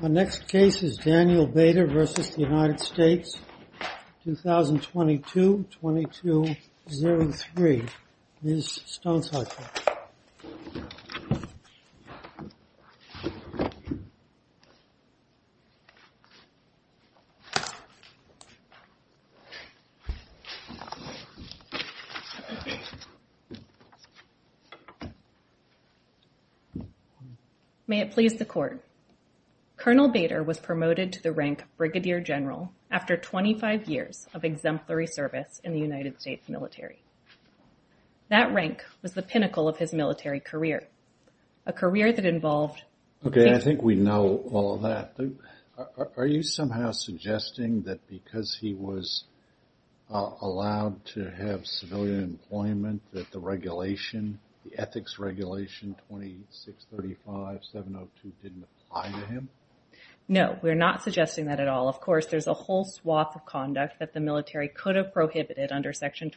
My next case is Daniel Bader v. United States, 2022-2203. Ms. Stone-Sutton. May it please the Court. Colonel Bader was promoted to the rank of Brigadier General after 25 years of exemplary service in the United States military. That rank was the pinnacle of his military career, a career that involved... Okay, I think we know all of that. Are you somehow suggesting that because he was allowed to have civilian employment that the regulation, the ethics regulation 2635702 didn't apply to him? No, we're not suggesting that at all. Of course, there's a whole swath of conduct that the military could have prohibited under section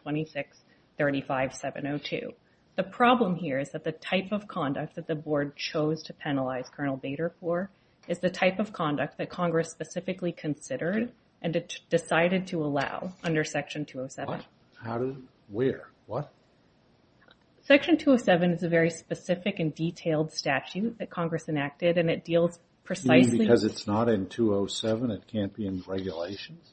2635702. The problem here is that the type of conduct that the board chose to penalize Colonel Bader for is the type of conduct that Congress specifically considered and decided to allow under section 207. Where? What? Section 207 is a very specific and detailed statute that Congress enacted and it deals precisely... You mean because it's not in 207, it can't be in regulations?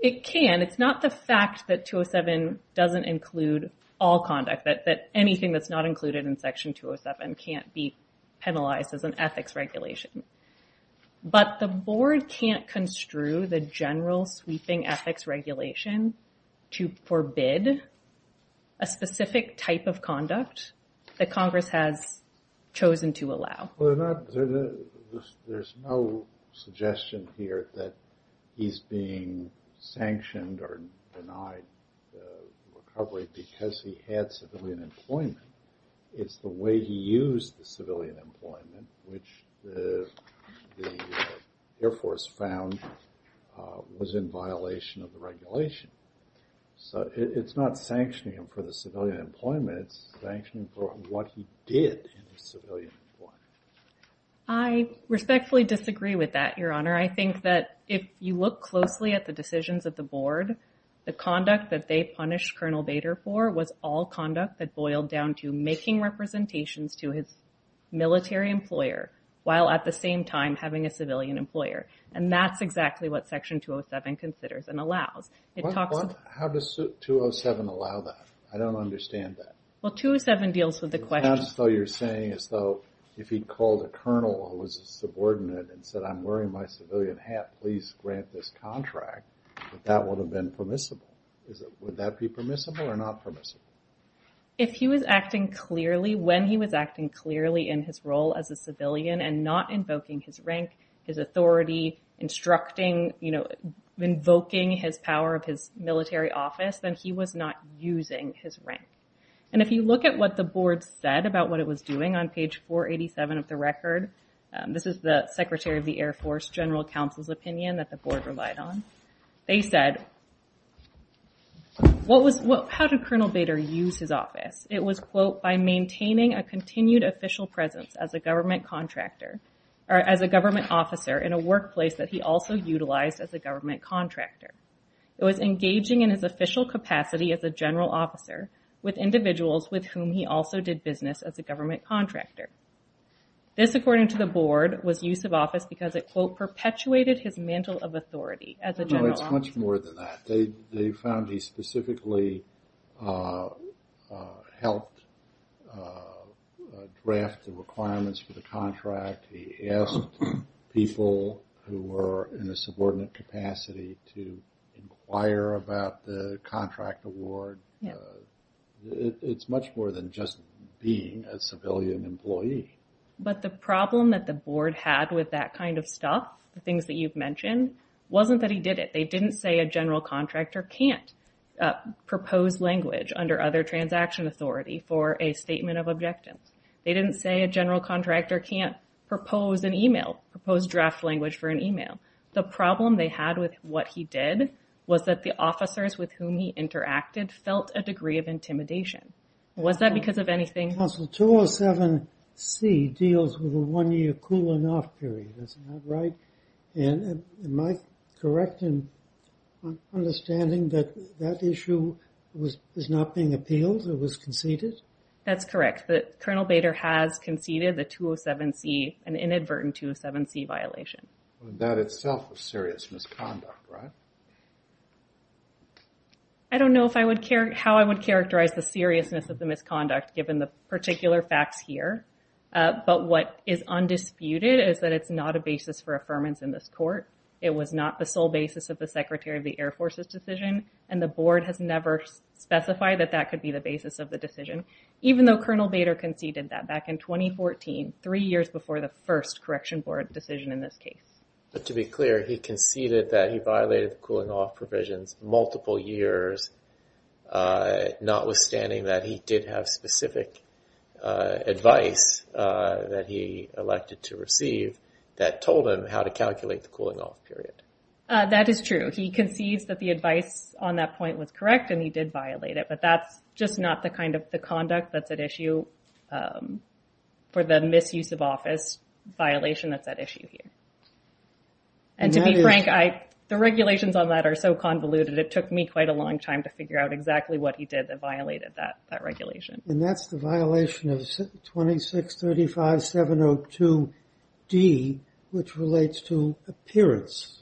It can. It's not the fact that 207 doesn't include all conduct, that anything that's not included in section 207 can't be penalized as an ethics regulation. But the board can't construe the general sweeping ethics regulation to forbid a specific type of conduct that Congress has chosen to allow. There's no suggestion here that he's being sanctioned or denied recovery because he had civilian employment. It's the way he used the civilian employment, which the Air Force found was in violation of the regulation. So it's not sanctioning him for the civilian employment, it's sanctioning for what he did in his civilian employment. I respectfully disagree with that, Your Honor. I think that if you look closely at the decisions of the board, the conduct that they punished Colonel Bader for was all conduct that boiled down to making representations to his military employer while at the same time having a civilian employer. And that's exactly what section 207 considers and allows. How does 207 allow that? I don't understand that. Well, 207 deals with the question. It sounds as though you're saying as though if he called a colonel or was a subordinate and said, I'm wearing my civilian hat, please grant this contract, that would have been permissible. Would that be permissible or not permissible? If he was acting clearly, when he was acting clearly in his role as a civilian and not invoking his rank, his authority, instructing, you know, invoking his power of his military office, then he was not using his rank. And if you look at what the board said about what it was doing on page 487 of the record, this is the Secretary of the Air Force General Counsel's opinion that the board relied on. They said, what was, how did Colonel Bader use his office? It was, quote, by maintaining a continued official presence as a government contractor or as a government officer in a workplace that he also utilized as a government contractor. It was engaging in his official capacity as a general officer with individuals with whom he also did business as a government contractor. This, according to the board, was use of office because it, quote, perpetuated his mantle of authority as a general officer. No, it's much more than that. They found he specifically helped draft the requirements for the contract. He asked people who were in a subordinate capacity to inquire about the contract award. It's much more than just being a civilian employee. But the problem that the board had with that kind of stuff, the things that you've mentioned, wasn't that he did it. They didn't say a general contractor can't propose language under other transaction authority for a statement of objectives. They didn't say a general contractor can't propose an email, propose draft language for an email. The problem they had with what he did was that the officers with whom he interacted felt a degree of intimidation. Was that because of anything? Counsel, 207C deals with a one-year cooling off period. Is that right? And am I correct in understanding that that issue was not being appealed? It was conceded? That's correct. That Colonel Bader has conceded the 207C, an inadvertent 207C violation. That itself was serious misconduct, right? I don't know if I would care how I would characterize the seriousness of misconduct given the particular facts here. But what is undisputed is that it's not a basis for affirmance in this court. It was not the sole basis of the Secretary of the Air Force's decision, and the board has never specified that that could be the basis of the decision. Even though Colonel Bader conceded that back in 2014, three years before the first Correction Board decision in this case. But to be clear, he conceded that he violated the cooling off provisions multiple years, notwithstanding that he did have specific advice that he elected to receive that told him how to calculate the cooling off period. That is true. He concedes that the advice on that point was correct and he did violate it, but that's just not the kind of the conduct that's at issue for the misuse of office violation that's at issue here. And to be frank, the regulations on that are so convoluted, it took me quite a long time to figure out exactly what he did that violated that regulation. And that's the violation of 2635-702-D, which relates to appearance.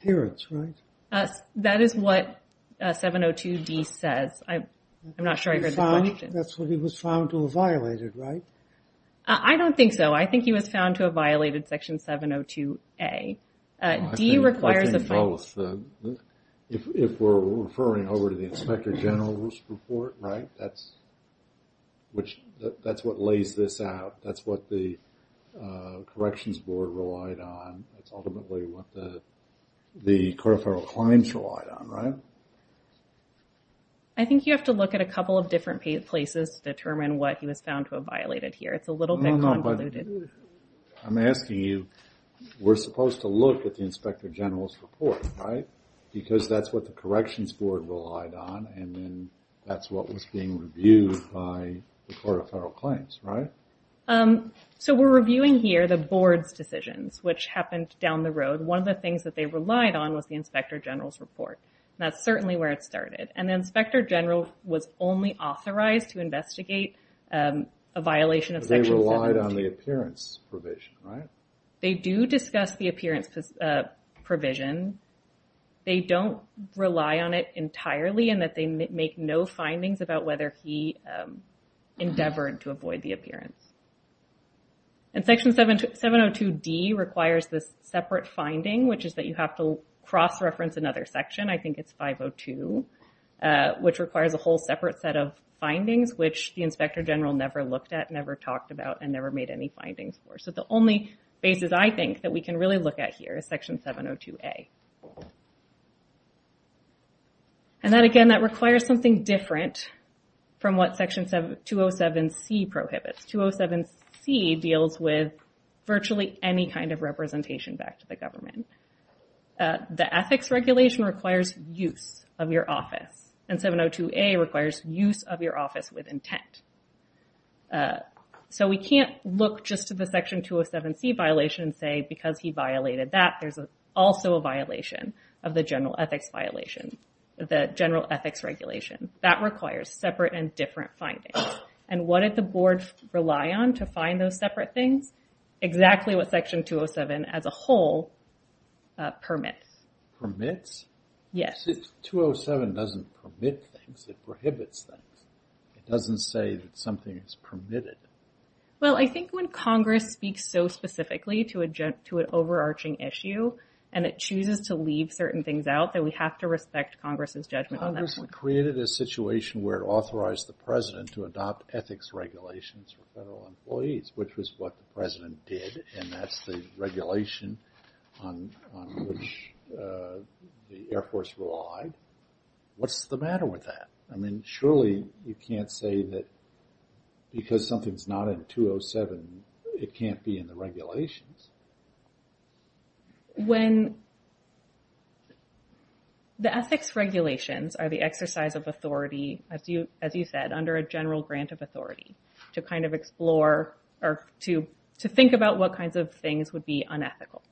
Appearance, right? That is what 702-D says. I'm not sure I heard the question. That's what he was found to have violated, right? I don't think so. I think he was found to have violated. I think both. If we're referring over to the Inspector General's report, right? That's what lays this out. That's what the Corrections Board relied on. That's ultimately what the Corporal Klein's relied on, right? I think you have to look at a couple of different places to determine what he was found to have violated here. It's a little bit convoluted. I'm asking you, we're supposed to look at the Inspector General's report, right? Because that's what the Corrections Board relied on, and then that's what was being reviewed by the Court of Federal Claims, right? So we're reviewing here the Board's decisions, which happened down the road. One of the things that they relied on was the Inspector General's report. That's certainly where it started. And the Inspector General was only authorized to investigate a violation of Appearance Provision, right? They do discuss the Appearance Provision. They don't rely on it entirely, in that they make no findings about whether he endeavored to avoid the appearance. And Section 702D requires this separate finding, which is that you have to cross-reference another section. I think it's 502, which requires a whole separate set of findings, which the Inspector General never looked at, never talked about, and never made any findings for. So the only basis, I think, that we can really look at here is Section 702A. And then again, that requires something different from what Section 207C prohibits. 207C deals with virtually any kind of representation back to the government. The Ethics Regulation requires use of your office. And 702A requires use of your office with intent. So we can't look just to the Section 207C violation and say, because he violated that, there's also a violation of the General Ethics Regulation. That requires separate and different findings. And what did the Board rely on to find those separate things? Exactly what Section 207, as a whole, permits. Permits? Yes. 207 doesn't permit things. It prohibits things. It doesn't say that something is permitted. Well, I think when Congress speaks so specifically to an overarching issue, and it chooses to leave certain things out, that we have to respect Congress's judgment on that. Congress created a situation where it authorized the President to adopt ethics regulations for federal employees, which was what the President did. And that's the regulation on which the Air Force relied. What's the matter with that? I mean, surely you can't say that because something's not in 207, it can't be in the regulations. When the ethics regulations are the exercise of authority, as you said, under a general grant authority, to kind of explore or to think about what kinds of things would be unethical.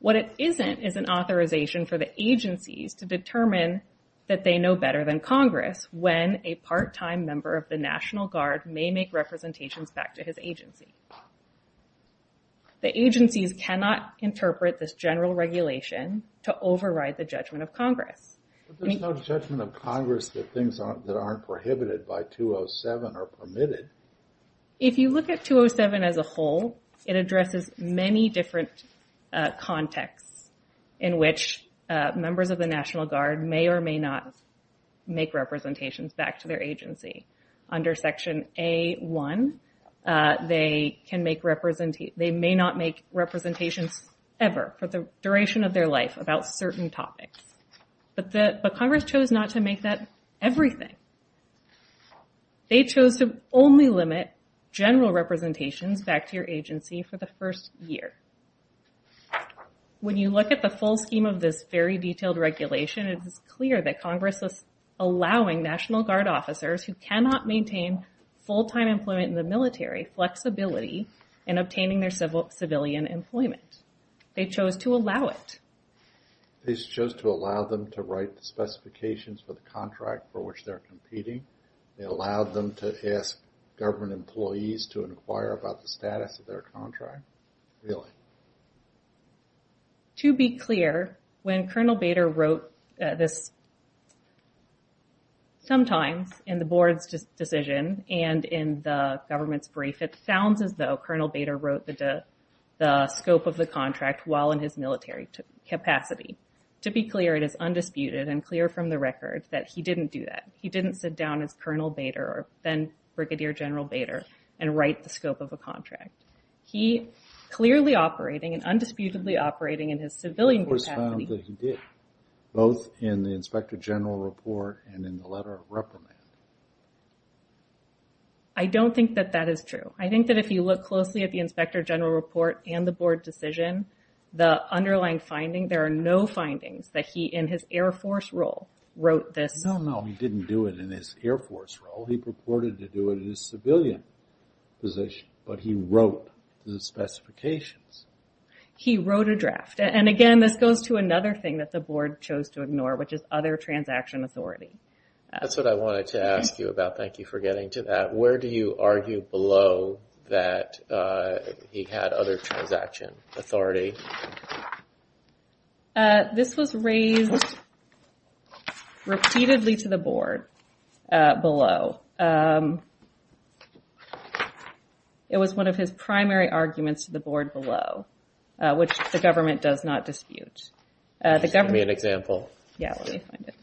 What it isn't is an authorization for the agencies to determine that they know better than Congress when a part-time member of the National Guard may make representations back to his agency. The agencies cannot interpret this general regulation to override the judgment of permitted. If you look at 207 as a whole, it addresses many different contexts in which members of the National Guard may or may not make representations back to their agency. Under Section A-1, they may not make representations ever for the duration of their life about certain topics. But Congress chose not to make that everything. They chose to only limit general representations back to your agency for the first year. When you look at the full scheme of this very detailed regulation, it is clear that Congress is allowing National Guard officers who cannot maintain full-time employment in the military, flexibility in obtaining their civilian employment. They chose to allow it. They chose to allow them to write the specifications for the contract for which they're competing. They allowed them to ask government employees to inquire about the status of their contract. Really. To be clear, when Colonel Bader wrote this, sometimes in the board's decision and in the government's brief, it sounds as though Colonel Bader wrote the scope of the contract while in his military capacity. To be clear, it is not true. He didn't sit down as Colonel Bader or then-Brigadier General Bader and write the scope of a contract. He clearly operating and undisputedly operating in his civilian capacity... It was found that he did, both in the Inspector General Report and in the letter of reprimand. I don't think that that is true. I think that if you look closely at the Inspector General Report and the board decision, the underlying finding, there are no findings that he in his Air Force role wrote this. No, no. He didn't do it in his Air Force role. He purported to do it in his civilian position, but he wrote the specifications. He wrote a draft. Again, this goes to another thing that the board chose to ignore, which is other transaction authority. That's what I wanted to ask you about. Thank you for getting to that. Where do you argue below that he had other transaction authority? This was raised repeatedly to the board below. It was one of his primary arguments to the board below, which the government does not dispute. Just give me an example. Yeah, let me find it.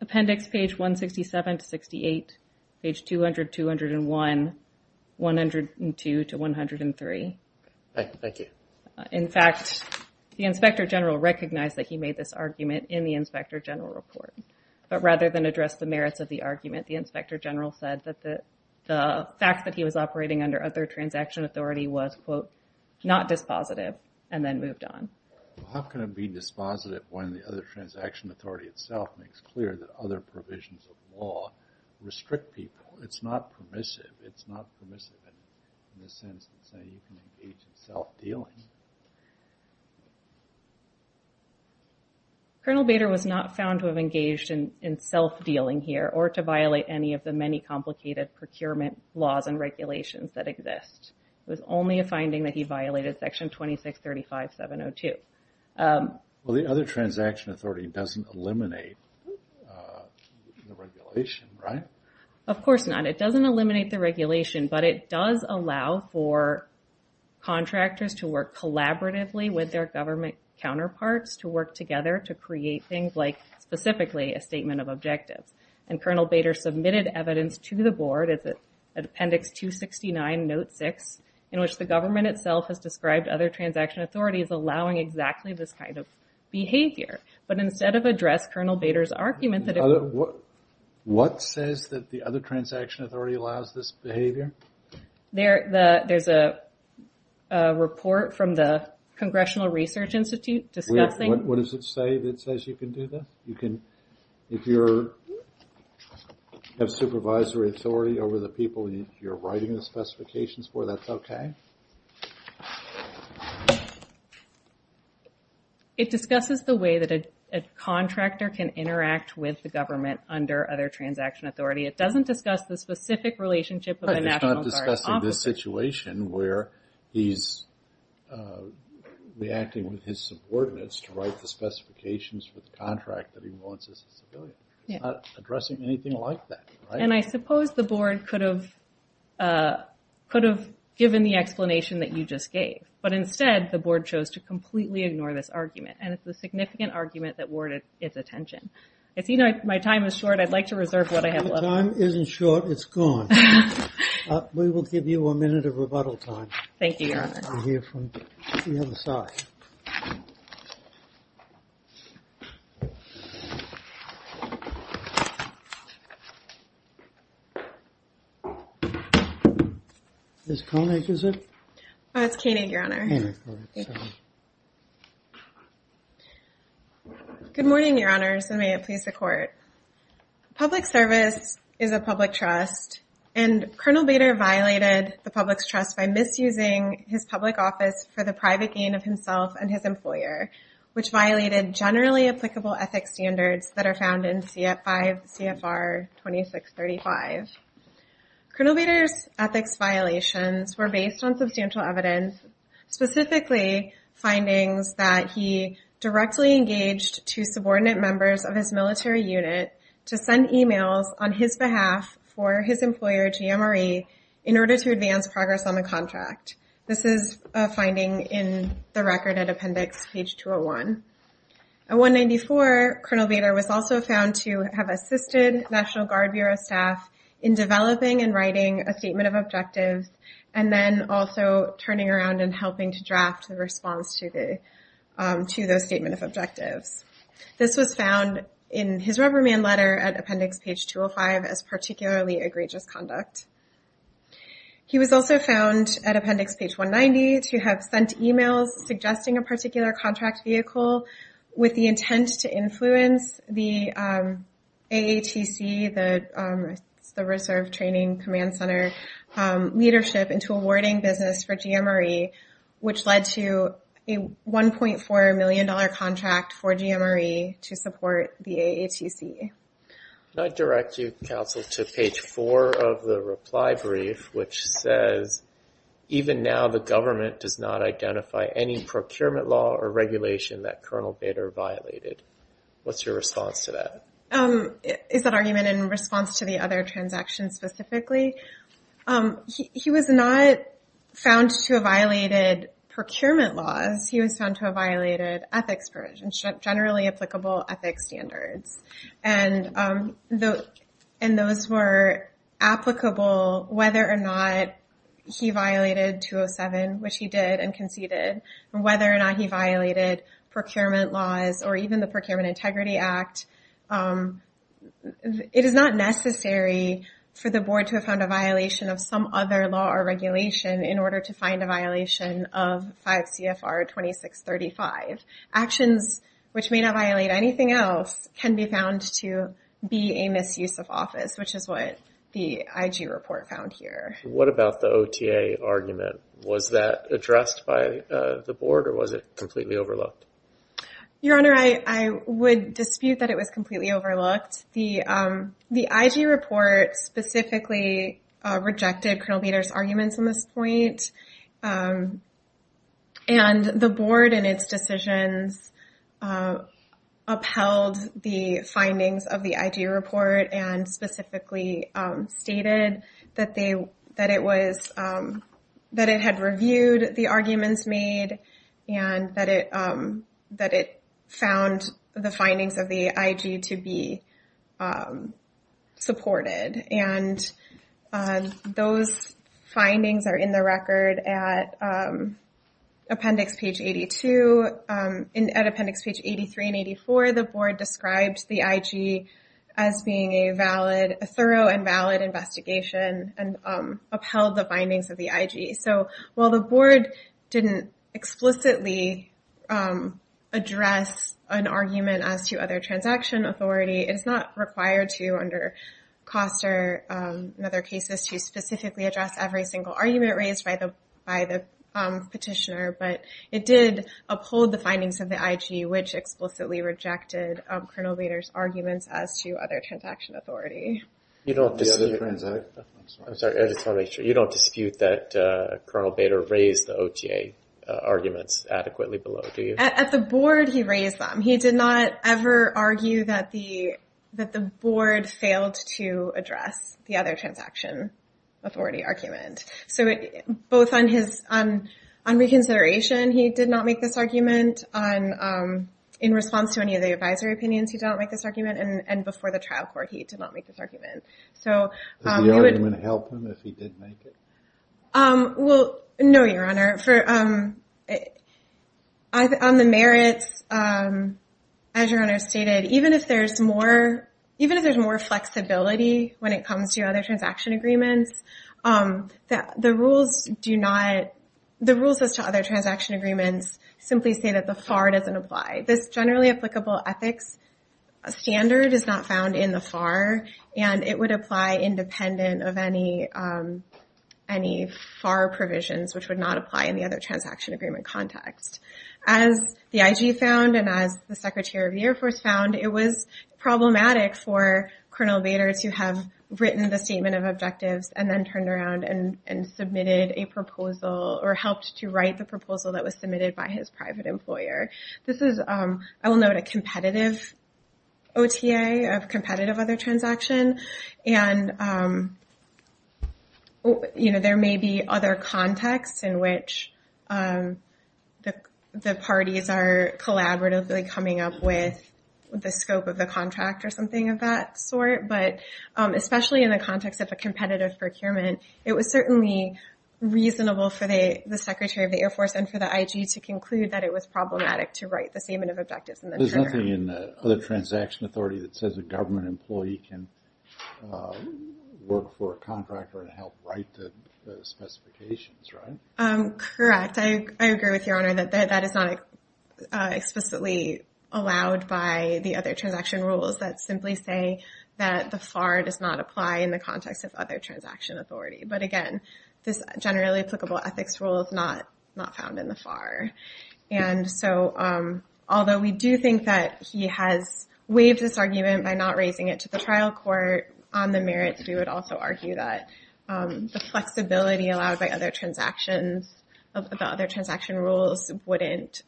Appendix page 167 to 68, page 200, 201, 102 to 103. Thank you. In fact, the Inspector General recognized that he made this argument in the Inspector General Report, but rather than address the merits of the argument, the Inspector General said that the fact that he was operating under other transaction authority was, quote, not dispositive, and then moved on. How can it be dispositive when the other transaction authority itself makes clear that other provisions of law restrict people? It's not permissive. It's not permissive in the sense that, say, you can engage in self-dealing. Colonel Bader was not found to have engaged in self-dealing here or to violate any of the many complicated procurement laws and regulations that exist. It was only a finding that he violated section 2635.702. Well, the other transaction authority doesn't eliminate the regulation, right? Of course not. It doesn't eliminate the regulation, but it does allow for contractors to work collaboratively with their government counterparts to work together to create things like, specifically, a statement of objectives. And Colonel Bader submitted evidence to the board at Appendix 269, Note 6, in which the government itself has described other transaction authorities allowing exactly this kind of behavior. But instead of address Colonel Bader's argument that... What says that the other transaction authority allows this behavior? There's a report from the Congressional Research Institute discussing... What does it say that says you can do this? You can, if you have supervisory authority over the people you're writing the specifications for, that's okay? It discusses the way that a contractor can interact with the government under other transaction authority. It doesn't discuss the specific relationship with the National Guard. It's discussing this situation where he's reacting with his subordinates to write the specifications for the contract that he wants as a civilian. It's not addressing anything like that. And I suppose the board could have given the explanation that you just gave. But instead, the board chose to completely ignore this argument. And it's a significant argument that warranted its attention. My time is short. I'd like to reserve what I have left. Time isn't short. It's gone. We will give you a minute of rebuttal time. Thank you, Your Honor. Ms. Koenig, is it? It's Koenig, Your Honor. Thank you. Good morning, Your Honors, and may it please the Court. Public service is a public trust, and Colonel Bader violated the public's trust by misusing his public office for the private gain of himself and his employer, which violated generally applicable ethics standards that are found in CFR 2635. Colonel Bader's ethics violations were based on substantial evidence, specifically findings that he directly engaged to subordinate members of his military unit to send emails on his behalf for his employer, GMRE, in order to advance progress on the contract. This is a finding in the record at Appendix page 201. At 194, Colonel Bader was also found to have assisted National Guard Bureau staff in developing and writing a statement of objectives, and then also turning around and helping to draft the response to those statement of objectives. This was found in his rubber man letter at Appendix page 205 as particularly egregious conduct. He was also found at Appendix page 190 to have sent emails suggesting a particular contract vehicle with the intent to influence the AATC, the Reserve Training Command Center, leadership into awarding business for GMRE, which led to a $1.4 million contract for GMRE to support the AATC. Can I direct you, Counsel, to page 4 of the reply brief, which says, even now the government does not identify any procurement law or regulation that Colonel Bader violated. What's your response to that? Is that argument in response to the other transaction specifically? He was not found to have violated procurement laws. He was found to have violated ethics provisions, generally applicable ethics standards, and those were applicable whether or not he violated 207, which he did and conceded, or whether or not he violated procurement laws or even the Procurement Integrity Act. It is not necessary for the board to have found a violation of some other law or regulation in order to find a violation of 5 CFR 2635. Actions which may not violate anything else can be found to be a misuse of office, which is what the IG report found here. What about the OTA argument? Was that addressed by the board or was it completely overlooked? Your Honor, I would dispute that it was completely overlooked. The IG report specifically rejected Colonel Bader's arguments on this point, and the board and its decisions upheld the findings of the IG report and specifically stated that it had reviewed the arguments made and that it found the findings of the IG to be supported. And those findings are in the record at Appendix Page 82. At Appendix Page 83 and 84, the board described the IG as being a thorough and valid investigation and upheld the findings of the IG. So while the board didn't explicitly address an argument as to other transaction authority, it is not required to under COSTA or other cases to specifically address every single argument raised by the petitioner, but it did uphold the findings of the IG, which explicitly rejected Colonel Bader's arguments as to other transaction authority. I'm sorry, I just want to make sure. You don't dispute that Colonel Bader raised the OTA arguments adequately below, do you? At the board, he raised them. He did not ever argue that the board failed to address the other transaction authority argument. So both on reconsideration, he did not make this argument. In response to any of the advisory opinions, he did not make this argument. And before the trial court, he did not make this argument. Does the argument help him if he did make it? Well, no, Your Honor. On the merits, as Your Honor stated, even if there's more flexibility when it comes to other transaction agreements, the rules as to other transaction agreements simply say that the FAR doesn't apply. This generally applicable ethics standard is not found in the FAR, and it would apply independent of any FAR provisions, which would not apply in the other transaction agreement context. As the IG found and as the Secretary of the Air Force found, it was problematic for Colonel Bader to have written the statement of objectives and then turned around and submitted a proposal or helped to write the proposal that was submitted by his private employer. This is, I will note, competitive OTA of competitive other transaction. And there may be other contexts in which the parties are collaboratively coming up with the scope of the contract or something of that sort. But especially in the context of a competitive procurement, it was certainly reasonable for the Secretary of the Air Force and for the IG to conclude that it was problematic to write the statement of objectives. There's nothing in the other transaction authority that says a government employee can work for a contractor and help write the specifications, right? Correct. I agree with Your Honor that that is not explicitly allowed by the other transaction rules that simply say that the FAR does not apply in the context of other transaction authority. But again, this generally applicable ethics rule is not found in the FAR. And so although we do think that he has waived this argument by not raising it to the trial court on the merits, we would also argue that the flexibility allowed by other transactions, the other transaction rules wouldn't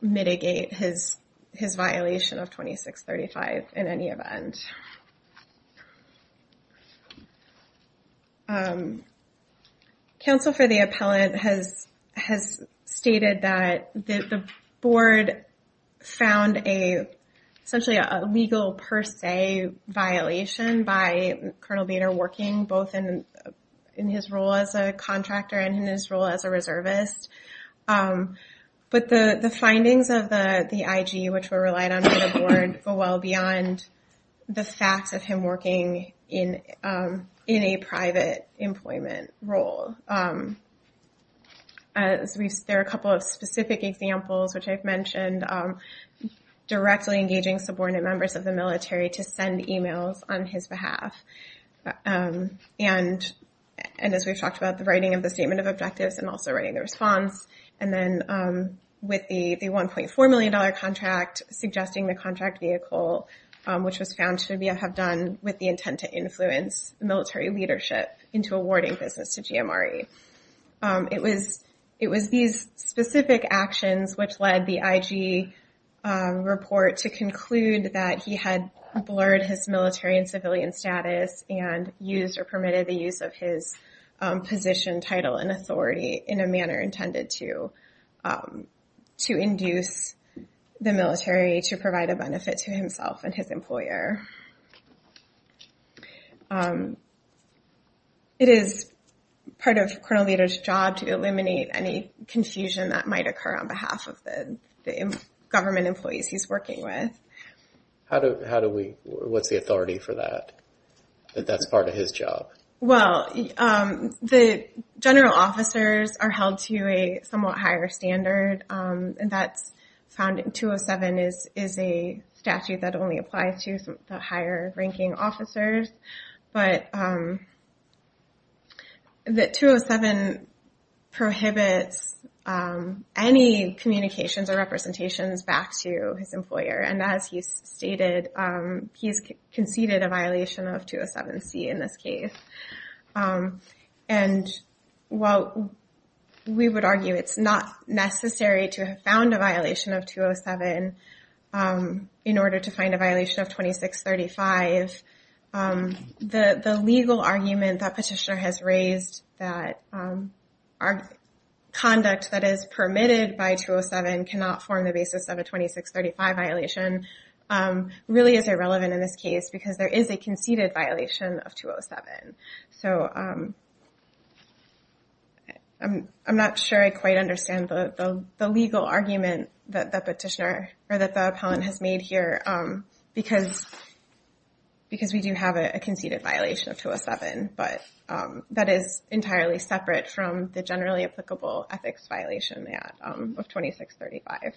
mitigate his violation of 2635 in any event. Counsel for the appellate has stated that the board found a, essentially a legal per se violation by Colonel Bader working both in his role as a contractor and in his role as a reservist. But the findings of the IG which were relied on by the board go well beyond the facts of him working in a private employment role. There are a couple of specific examples which I've mentioned, directly engaging subordinate members of the military to send emails on his behalf. And as we've talked about, the writing of the statement of objectives and also writing the response. And then with the $1.4 million contract suggesting the contract vehicle, which was found to have done with the intent to influence military leadership into awarding business to GMRE. It was these specific actions which led the IG report to conclude that he had blurred his military and civilian status and used or permitted the use of his position, title, and authority in a manner intended to induce the military to provide benefit to himself and his employer. It is part of Colonel Bader's job to eliminate any confusion that might occur on behalf of the government employees he's working with. How do we, what's the authority for that? That's part of his job. Well, the general officers are held to a somewhat higher standard. And that's found in 207 is a statute that only applies to the higher ranking officers, but the 207 prohibits any communications or representations back to his employer. And as he's stated, he's conceded a violation of 207C in this case. And while we would argue it's not necessary to have found a violation of 207 in order to find a violation of 2635, the legal argument that petitioner has raised that our conduct that is permitted by 207 cannot form the basis of a 2635 violation really is irrelevant in this case because there is a conceded violation of 207. So I'm not sure I quite understand the legal argument that the petitioner or that the appellant has made here because we do have a conceded violation of 207, but that is entirely separate from the generally applicable ethics violation of 2635.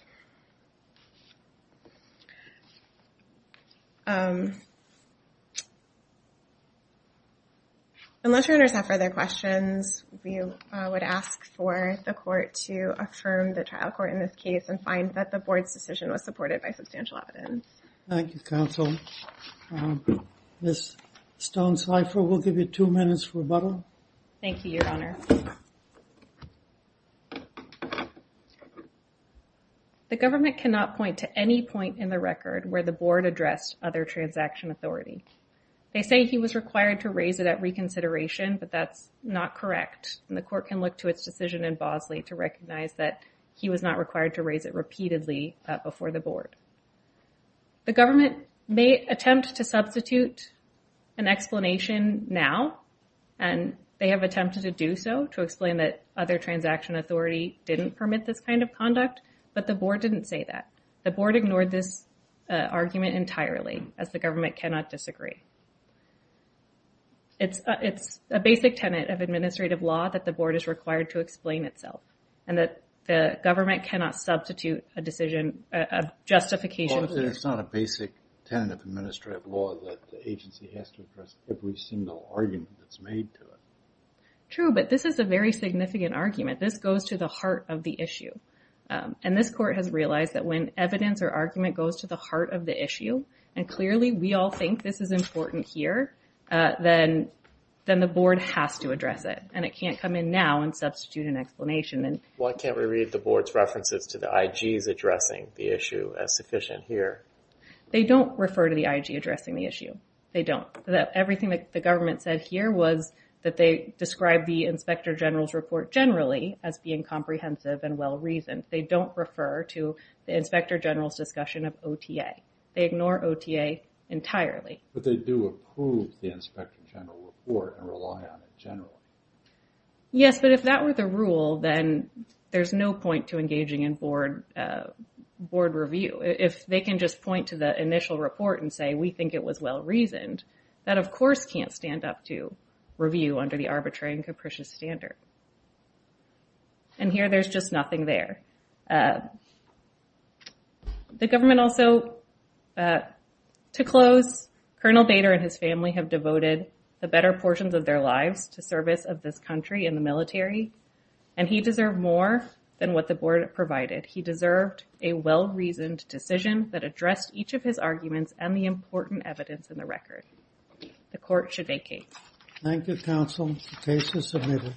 Unless your honors have further questions, we would ask for the court to affirm the trial court in this case and find that the board's decision was supported by substantial evidence. Thank you, counsel. Ms. Stone-Seifer, we'll give you two minutes for rebuttal. Thank you, your honor. The government cannot point to any point in the record where the board addressed other transaction authority. They say he was required to raise it at reconsideration, but that's not correct, and the court can look to its decision in Bosley to recognize that he was not required to raise it repeatedly before the board. The government may attempt to substitute an explanation now, and they have attempted to do so to explain that other transaction authority didn't permit this kind of conduct, but the board didn't say that. The board ignored this argument entirely, as the government cannot disagree. It's a basic tenet of administrative law that the board is required to explain itself, and that the government cannot substitute a decision, a justification... Well, it's not a basic tenet of administrative law that the agency has to address every single argument that's made to it. True, but this is a very significant argument. This goes to the heart of the issue, and this court has realized that when evidence or argument goes to the heart of the issue, and clearly we all think this is important here, then the board has to address it, and it can't come in now and substitute an explanation. Why can't we read the board's references to the IGs addressing the issue as sufficient here? They don't refer to the IG addressing the issue. They don't. Everything that the government said here was that they described the Inspector General's report generally as being comprehensive and well-reasoned. They don't refer to the Inspector General's discussion of OTA. They ignore OTA entirely. But they do approve the Inspector General report and rely on it generally. Yes, but if that were the rule, then there's no point to engaging in board review. If they can just point to the initial report and we think it was well-reasoned, that, of course, can't stand up to review under the arbitrary and capricious standard. And here, there's just nothing there. The government also, to close, Colonel Bader and his family have devoted the better portions of their lives to service of this country in the military, and he deserved more than what the board provided. He deserved a well-reasoned decision that addressed each of his arguments and the important evidence in the record. The court should vacate. Thank you, counsel. The case is submitted.